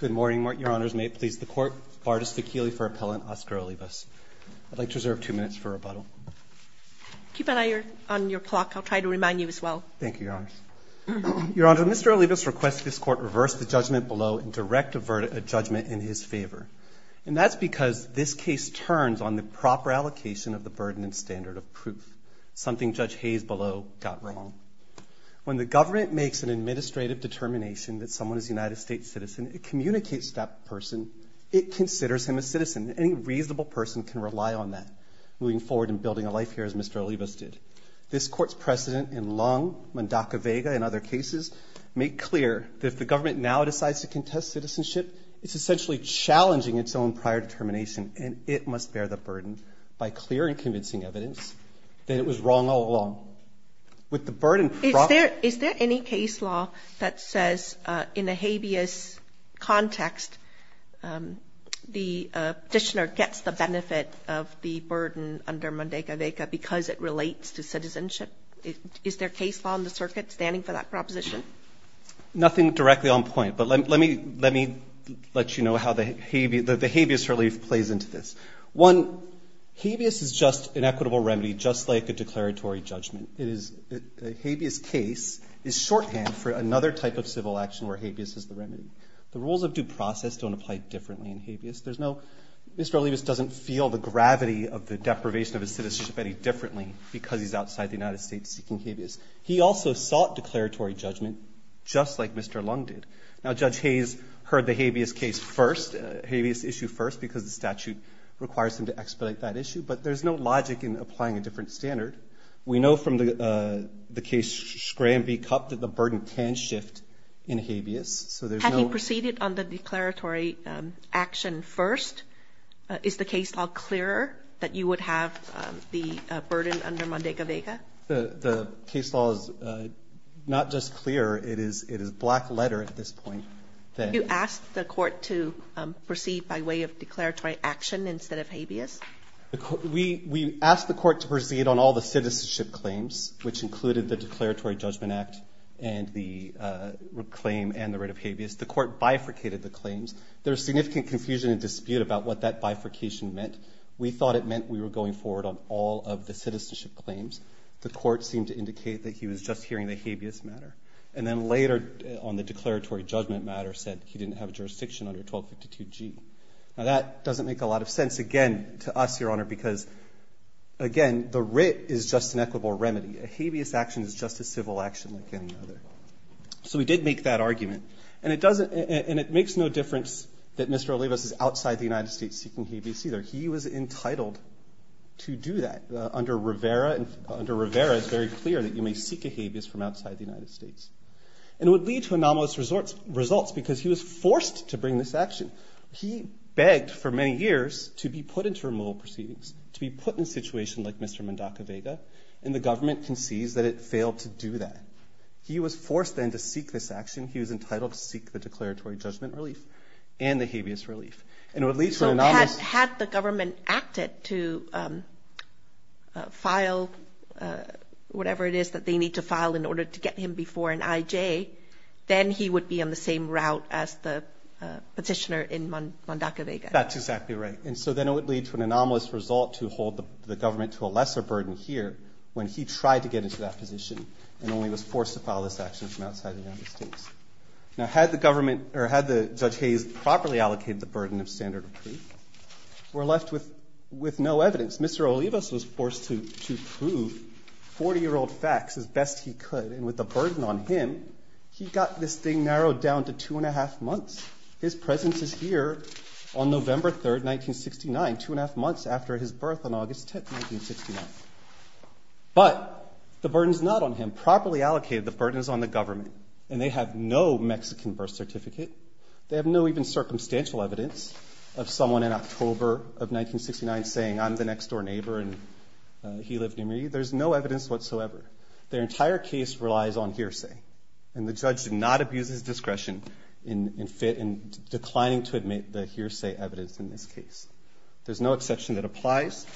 Good morning, your honors. May it please the court, Bardas Fekili for Appellant Oscar Olivas. I'd like to reserve two minutes for rebuttal. Keep an eye on your clock. I'll try to remind you as well. Thank you, your honors. Your honor, Mr. Olivas requests this court reverse the judgment below and direct a judgment in his favor. And that's because this case turns on the proper allocation of the burden and standard of proof, something Judge Hayes below got wrong. When the government makes an administrative determination that someone is a United States citizen, it communicates to that person. It considers him a citizen. Any reasonable person can rely on that moving forward and building a life here, as Mr. Olivas did. This court's precedent in Lung, Mundaka-Vega, and other cases make clear that if the government now decides to contest citizenship, it's essentially challenging its own prior determination. And it must bear the burden by clear and convincing evidence that it was wrong all along. With the burden proper. Is there any case law that says in a habeas context, the petitioner gets the benefit of the burden under Mundaka-Vega because it relates to citizenship? Is there case law in the circuit standing for that proposition? Nothing directly on point. But let me let you know how the habeas relief plays into this. One, habeas is just an equitable remedy, just like a declaratory judgment. A habeas case is shorthand for another type of civil action where habeas is the remedy. The rules of due process don't apply differently in habeas. Mr. Olivas doesn't feel the gravity of the deprivation of his citizenship any differently because he's outside the United States seeking habeas. He also sought declaratory judgment, just like Mr. Lung did. Now, Judge Hayes heard the habeas issue first because the statute requires him to expedite that issue. But there's no logic in applying a different standard. We know from the case Scrambee-Cup that the burden can shift in habeas, so there's no- Had he proceeded on the declaratory action first, is the case law clearer that you would have the burden under Mundaka-Vega? The case law is not just clear, it is black letter at this point. You asked the court to proceed by way of declaratory action instead of habeas? We asked the court to proceed on all the citizenship claims, which included the Declaratory Judgment Act and the claim and the rate of habeas. The court bifurcated the claims. There was significant confusion and dispute about what that bifurcation meant. We thought it meant we were going forward on all of the citizenship claims. The court seemed to indicate that he was just hearing the habeas matter. And then later on the declaratory judgment matter said he didn't have a jurisdiction under 1252G. Now, that doesn't make a lot of sense, again, to us, Your Honor, because, again, the writ is just an equitable remedy. A habeas action is just a civil action like any other. So we did make that argument. And it makes no difference that Mr. Olivas is outside the United States seeking habeas either. He was entitled to do that. Under Rivera, it's very clear that you may seek a habeas from outside the United States. And it would lead to anomalous results because he was forced to bring this action. He begged for many years to be put into removal proceedings, to be put in a situation like Mr. Mendoca-Vega. And the government concedes that it failed to do that. He was forced then to seek this action. He was entitled to seek the declaratory judgment relief and the habeas relief. And it would lead to anomalous- Had the government acted to file whatever it is that they need to file in order to get him before an IJ, then he would be on the same route as the petitioner in Mendoca-Vega. That's exactly right. And so then it would lead to an anomalous result to hold the government to a lesser burden here when he tried to get into that position and only was forced to file this action from outside the United States. Now, had the government or had the Judge Hayes properly allocated the burden of standard of proof, we're left with no evidence. Mr. Olivas was forced to prove 40-year-old facts as best he could. And with the burden on him, he got this thing narrowed down to two and a half months. His presence is here on November 3rd, 1969, two and a half months after his birth on August 10th, 1969. But the burden's not on him. Properly allocated, the burden is on the government. And they have no Mexican birth certificate. They have no even circumstantial evidence of someone in October of 1969 saying, I'm the next door neighbor and he lived near me. There's no evidence whatsoever. Their entire case relies on hearsay. And the judge did not abuse his discretion in declining to admit the hearsay evidence in this case. There's no exception that applies.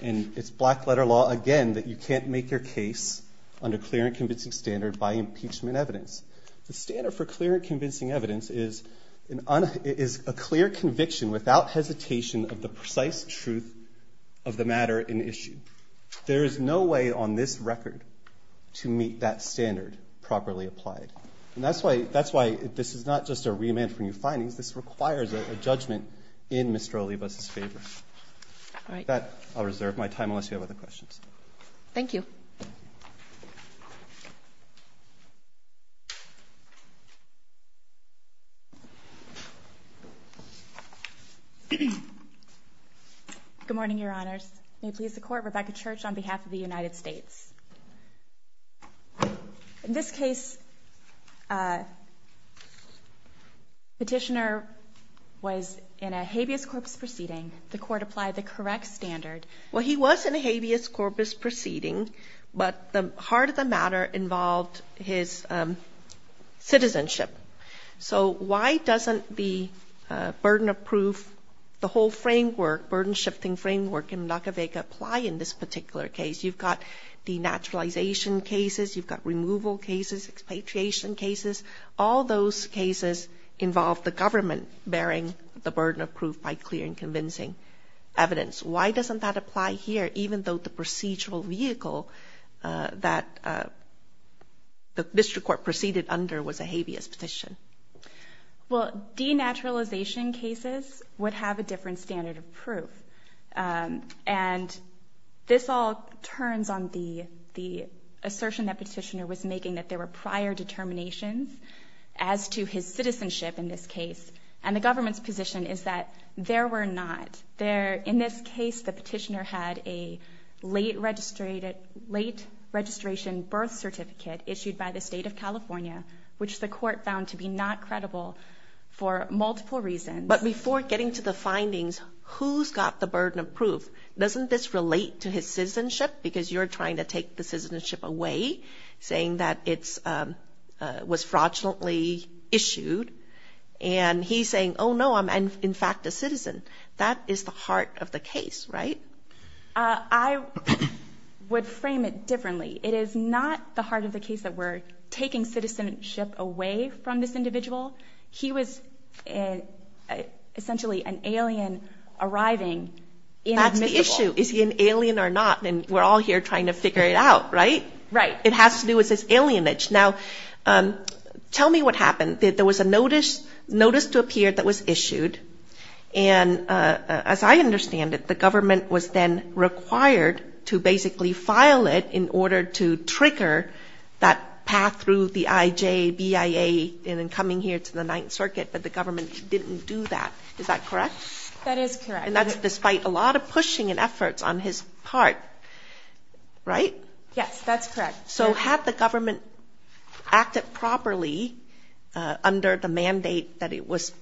And it's black letter law, again, that you can't make your case under clear and convincing standard by impeachment evidence. The standard for clear and convincing evidence is a clear conviction without hesitation of the precise truth of the matter in issue. There is no way on this record to meet that standard properly applied. And that's why this is not just a remand for new findings, this requires a judgment in Mr. Olivas' favor. That, I'll reserve my time unless you have other questions. Thank you. Good morning, your honors. May it please the court, Rebecca Church on behalf of the United States. In this case, petitioner was in a habeas corpus proceeding. The court applied the correct standard. Well, he was in a habeas corpus proceeding, but the heart of the matter involved his citizenship. So why doesn't the burden of proof, the whole framework, the burden shifting framework in Nacavega apply in this particular case? You've got denaturalization cases, you've got removal cases, expatriation cases. All those cases involve the government bearing the burden of proof by clear and convincing evidence. Why doesn't that apply here, even though the procedural vehicle that the district court proceeded under was a habeas petition? Well, denaturalization cases would have a different standard of proof. And this all turns on the assertion that petitioner was making that there were prior determinations as to his citizenship in this case. And the government's position is that there were not. In this case, the petitioner had a late registration birth certificate issued by the state of California, which the court found to be not credible for multiple reasons. But before getting to the findings, who's got the burden of proof? Doesn't this relate to his citizenship? Because you're trying to take the citizenship away, saying that it was fraudulently issued. And he's saying, oh no, I'm in fact a citizen. That is the heart of the case, right? I would frame it differently. It is not the heart of the case that we're taking citizenship away from this individual. He was essentially an alien arriving in admissible. That's the issue. Is he an alien or not? And we're all here trying to figure it out, right? Right. It has to do with his alienage. Now, tell me what happened. There was a notice to appear that was issued. And as I understand it, the government was then required to basically file it in order to trigger that path through the IJ, BIA, and then coming here to the Ninth Circuit, but the government didn't do that. Is that correct? That is correct. And that's despite a lot of pushing and efforts on his part, right? Yes, that's correct. So had the government acted properly under the mandate that it was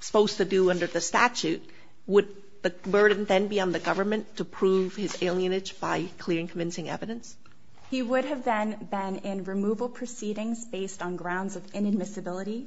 supposed to do under the statute, would the burden then be on the government to prove his alienage by clearing convincing evidence? He would have then been in removal proceedings based on grounds of inadmissibility.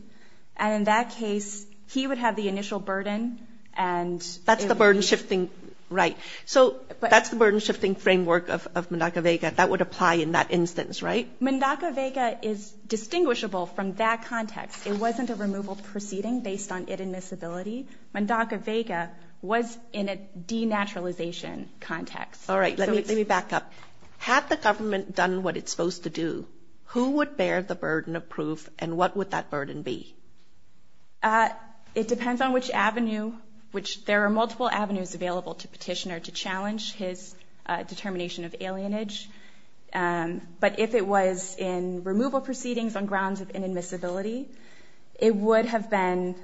And in that case, he would have the initial burden and- That's the burden shifting, right. So that's the burden shifting framework of Mundaka Vega. That would apply in that instance, right? Mundaka Vega is distinguishable from that context. It wasn't a removal proceeding based on inadmissibility. Mundaka Vega was in a denaturalization context. All right, let me back up. Had the government done what it's supposed to do, who would bear the burden of proof and what would that burden be? It depends on which avenue, which there are multiple avenues available to petitioner to challenge his determination of alienage. But if it was in removal proceedings on grounds of inadmissibility, it would have been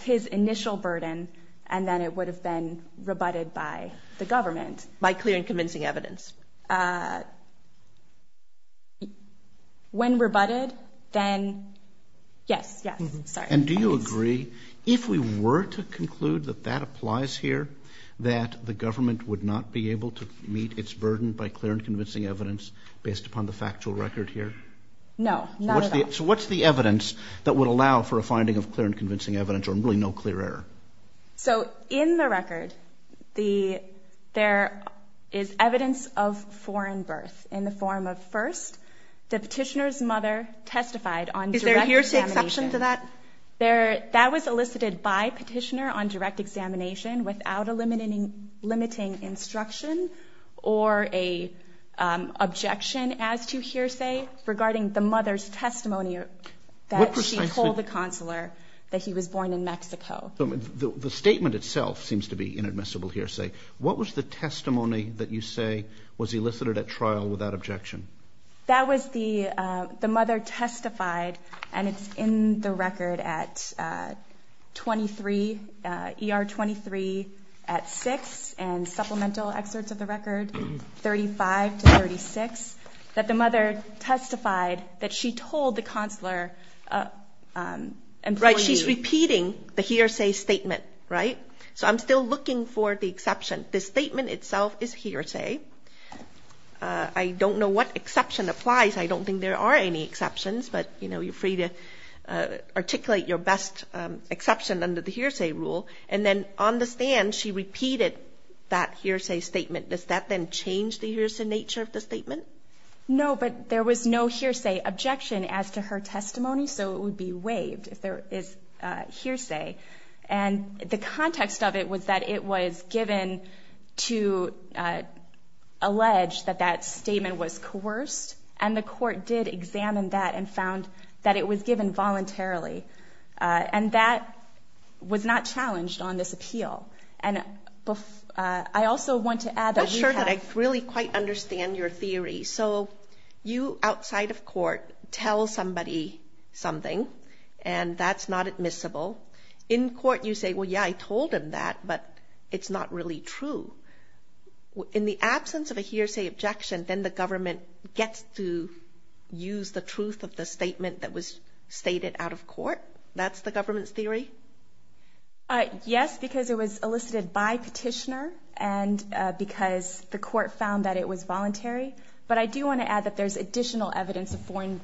his initial burden and then it would have been rebutted by the government. By clearing convincing evidence. When rebutted, then yes, yes, sorry. And do you agree, if we were to conclude that that applies here, that the government would not be able to meet its burden by clear and convincing evidence based upon the factual record here? No, not at all. So what's the evidence that would allow for a finding of clear and convincing evidence or really no clear error? So in the record, there is evidence of foreign birth in the form of first, the petitioner's mother testified on direct examination. Is there a hearsay exception to that? That was elicited by petitioner on direct examination without a limiting instruction or a objection as to hearsay regarding the mother's testimony that she told the consular that he was born in Mexico. The statement itself seems to be inadmissible hearsay. What was the testimony that you say was elicited at trial without objection? That was the, the mother testified and it's in the record at 23, ER 23 at six and supplemental excerpts of the record, 35 to 36, that the mother testified that she told the consular employee. Right, she's repeating the hearsay statement, right? So I'm still looking for the exception. The statement itself is hearsay. I don't know what exception applies. I don't think there are any exceptions, but you're free to articulate your best exception under the hearsay rule. And then on the stand, she repeated that hearsay statement. Does that then change the hearsay nature of the statement? No, but there was no hearsay objection as to her testimony. So it would be waived if there is hearsay. And the context of it was that it was given to allege that that statement was coerced and the court did examine that and found that it was given voluntarily. And that was not challenged on this appeal. And I also want to add that we have- I'm not sure that I really quite understand your theory. So you, outside of court, tell somebody something and that's not admissible. In court, you say, well, yeah, I told him that, but it's not really true. In the absence of a hearsay objection, then the government gets to use the truth of the statement that was stated out of court. That's the government's theory? Yes, because it was elicited by petitioner and because the court found that it was voluntary. But I do want to add that there's additional evidence of foreign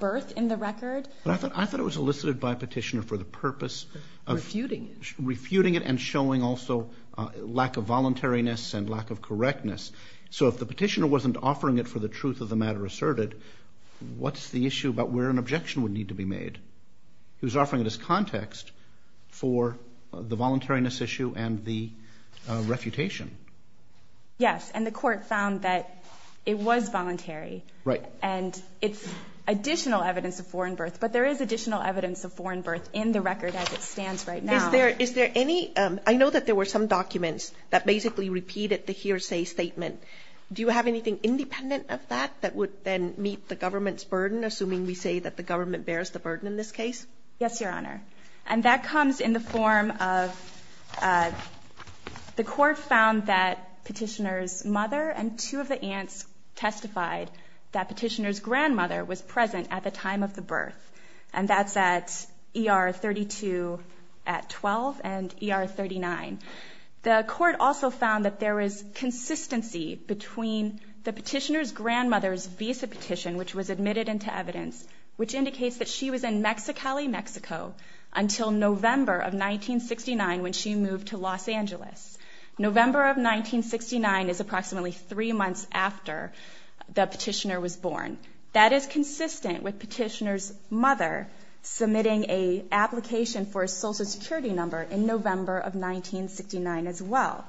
birth in the record. But I thought it was elicited by petitioner for the purpose of- Refuting it. Refuting it and showing also lack of voluntariness and lack of correctness. So if the petitioner wasn't offering it for the truth of the matter asserted, what's the issue about where an objection would need to be made? He was offering it as context for the voluntariness issue and the refutation. Yes, and the court found that it was voluntary. Right. And it's additional evidence of foreign birth, but there is additional evidence of foreign birth in the record as it stands right now. I know that there were some documents that basically repeated the hearsay statement. Do you have anything independent of that that would then meet the government's burden, assuming we say that the government bears the burden in this case? Yes, Your Honor. And that comes in the form of the court found that petitioner's mother and two of the aunts testified that petitioner's grandmother was present at the time of the birth. And that's at ER 32 at 12 and ER 39. The court also found that there is consistency between the petitioner's grandmother's visa petition, which was admitted into evidence, which indicates that she was in Mexicali, Mexico until November of 1969 when she moved to Los Angeles. November of 1969 is approximately three months after the petitioner was born. That is consistent with petitioner's mother submitting a application for a social security number in November of 1969 as well.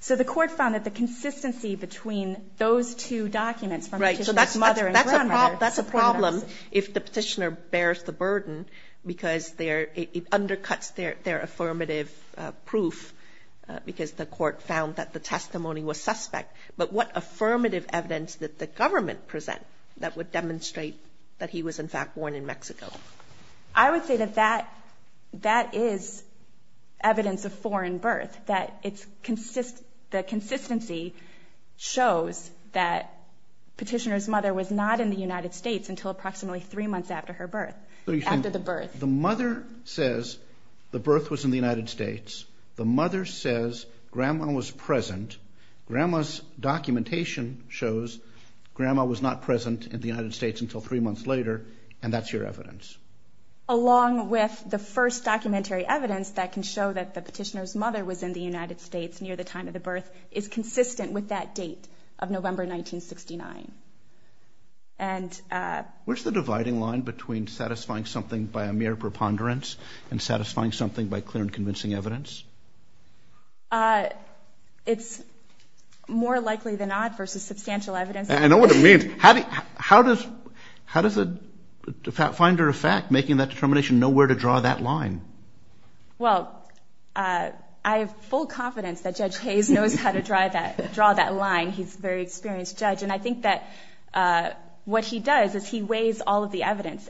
So the court found that the consistency between those two documents from petitioner's mother and grandmother. That's a problem if the petitioner bears the burden because it undercuts their affirmative proof because the court found that the testimony was suspect. But what affirmative evidence did the government present that would demonstrate that he was in fact born in Mexico? I would say that that is evidence of foreign birth, that the consistency shows that petitioner's mother was not in the United States until approximately three months after her birth, after the birth. The mother says the birth was in the United States. The mother says grandma was present. Grandma's documentation shows grandma was not present in the United States until three months later and that's your evidence. Along with the first documentary evidence that can show that the petitioner's mother was in the United States near the time of the birth is consistent with that date of November 1969. Where's the dividing line between satisfying something by a mere preponderance and satisfying something by clear and convincing evidence? It's more likely than not versus substantial evidence. I know what it means. How does a finder of fact making that determination know where to draw that line? Well, I have full confidence that Judge Hayes knows how to draw that line. He's a very experienced judge and I think that what he does is he weighs all of the evidence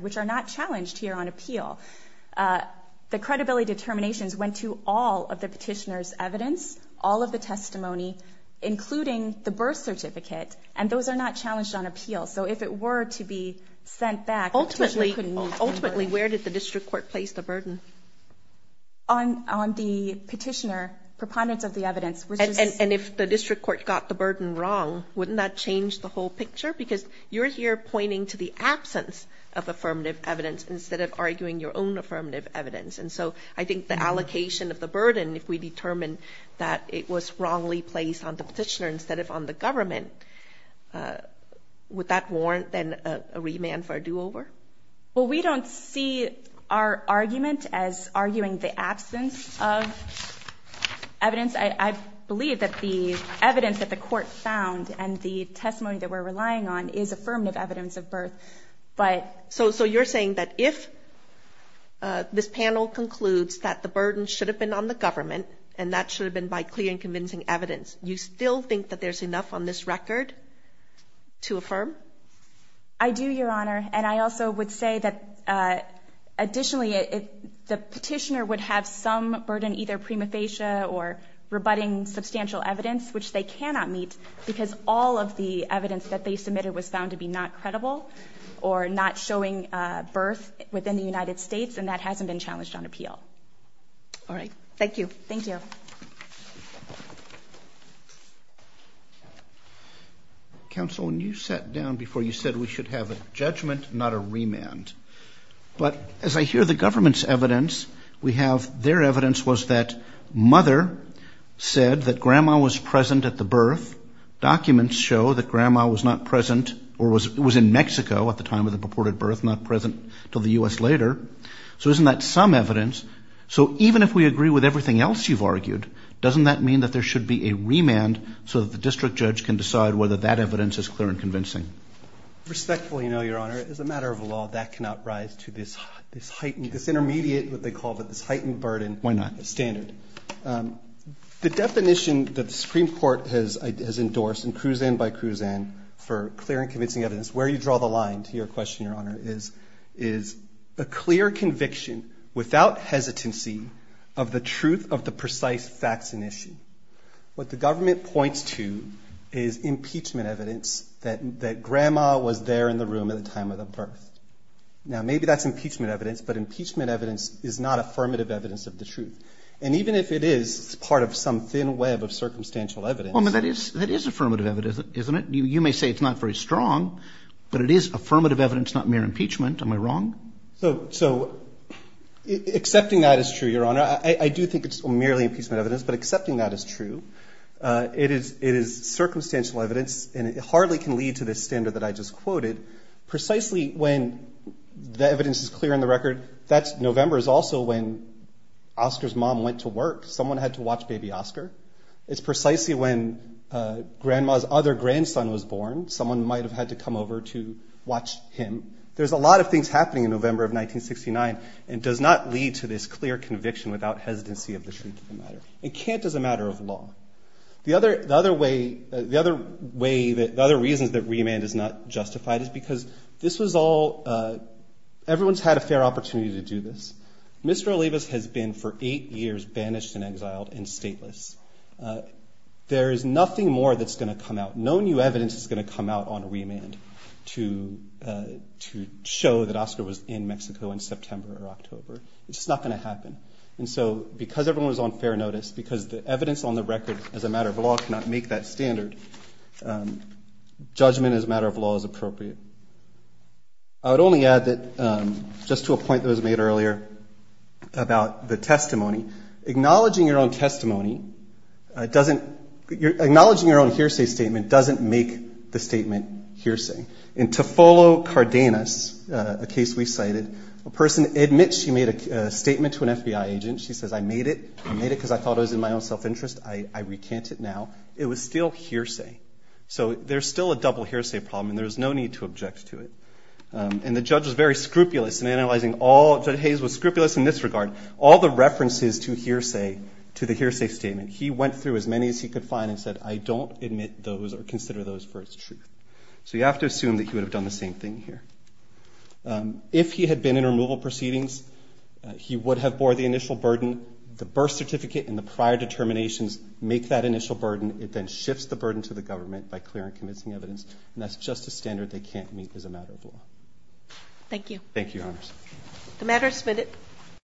which are not challenged here on a petition. The credibility determinations went to all of the petitioner's evidence, all of the testimony, including the birth certificate and those are not challenged on appeal. So if it were to be sent back, the petitioner couldn't need to. Ultimately, where did the district court place the burden? On the petitioner, preponderance of the evidence. And if the district court got the burden wrong, wouldn't that change the whole picture? Because you're here pointing to the absence of affirmative evidence instead of arguing your own affirmative evidence. And so I think the allocation of the burden, if we determined that it was wrongly placed on the petitioner instead of on the government, would that warrant then a remand for a do-over? Well, we don't see our argument as arguing the absence of evidence. I believe that the evidence that the court found and the testimony that we're relying on is affirmative evidence of birth. But... So you're saying that if this panel concludes that the burden should have been on the government and that should have been by clear and convincing evidence, you still think that there's enough on this record to affirm? I do, Your Honor. And I also would say that additionally, the petitioner would have some burden, either prima facie or rebutting substantial evidence, which they cannot meet because all of the evidence that they submitted was found to be not credible or not showing birth within the United States, and that hasn't been challenged on appeal. All right. Thank you. Thank you. Counsel, when you sat down before, you said we should have a judgment, not a remand. But as I hear the government's evidence, we have their evidence was that mother said that grandma was present at the birth. Documents show that grandma was not present or was in Mexico at the time of the purported birth, not present till the U.S. later. So isn't that some evidence? So even if we agree with everything else you've argued, doesn't that mean that there should be a remand so that the district judge can decide whether that evidence is clear and convincing? Respectfully, no, Your Honor. As a matter of law, that cannot rise to this heightened, this intermediate, what they call this heightened burden. Why not? Standard. The definition that the Supreme Court has endorsed in Kruzan by Kruzan for clear and convincing evidence, where you draw the line to your question, Your Honor, is a clear conviction without hesitancy of the truth of the precise facts and issue. What the government points to is impeachment evidence that grandma was there in the room at the time of the birth. Now, maybe that's impeachment evidence, but impeachment evidence is not affirmative evidence of the truth. And even if it is, it's part of some thin web of circumstantial evidence. Well, I mean, that is affirmative evidence, isn't it? You may say it's not very strong, but it is affirmative evidence, not mere impeachment. Am I wrong? So accepting that is true, Your Honor. I do think it's merely impeachment evidence, but accepting that is true. It is circumstantial evidence, and it hardly can lead to this standard that I just quoted. Precisely when the evidence is clear in the record, that November is also when Oscar's mom went to work. Someone had to watch baby Oscar. It's precisely when grandma's other grandson was born. Someone might have had to come over to watch him. There's a lot of things happening in November of 1969, and it does not lead to this clear conviction without hesitancy of the truth of the matter. It can't as a matter of law. The other way, the other reasons that remand is not justified is because this was all, everyone's had a fair opportunity to do this. Mr. Olivas has been for eight years banished and exiled and stateless. There is nothing more that's gonna come out. No new evidence is gonna come out on remand to show that Oscar was in Mexico in September or October. It's just not gonna happen. And so because everyone was on fair notice, because the evidence on the record, as a matter of law, cannot make that standard, judgment as a matter of law is appropriate. I would only add that, just to a point that was made earlier about the testimony, acknowledging your own testimony doesn't, acknowledging your own hearsay statement doesn't make the statement hearsay. In Tofolo Cardenas, a case we cited, a person admits she made a statement to an FBI agent. She says, I made it, I made it because I thought it was in my own self-interest. I recant it now. It was still hearsay. So there's still a double hearsay problem, and there's no need to object to it. And the judge was very scrupulous in analyzing all, Judge Hayes was scrupulous in this regard, all the references to hearsay, to the hearsay statement. He went through as many as he could find and said, I don't admit those or consider those for its truth. So you have to assume that he would have done the same thing here. If he had been in removal proceedings, he would have bore the initial burden. The birth certificate and the prior determinations make that initial burden. It then shifts the burden to the government by clearing convincing evidence. And that's just a standard they can't meet as a matter of law. Thank you. Thank you, Your Honors. The matter is submitted.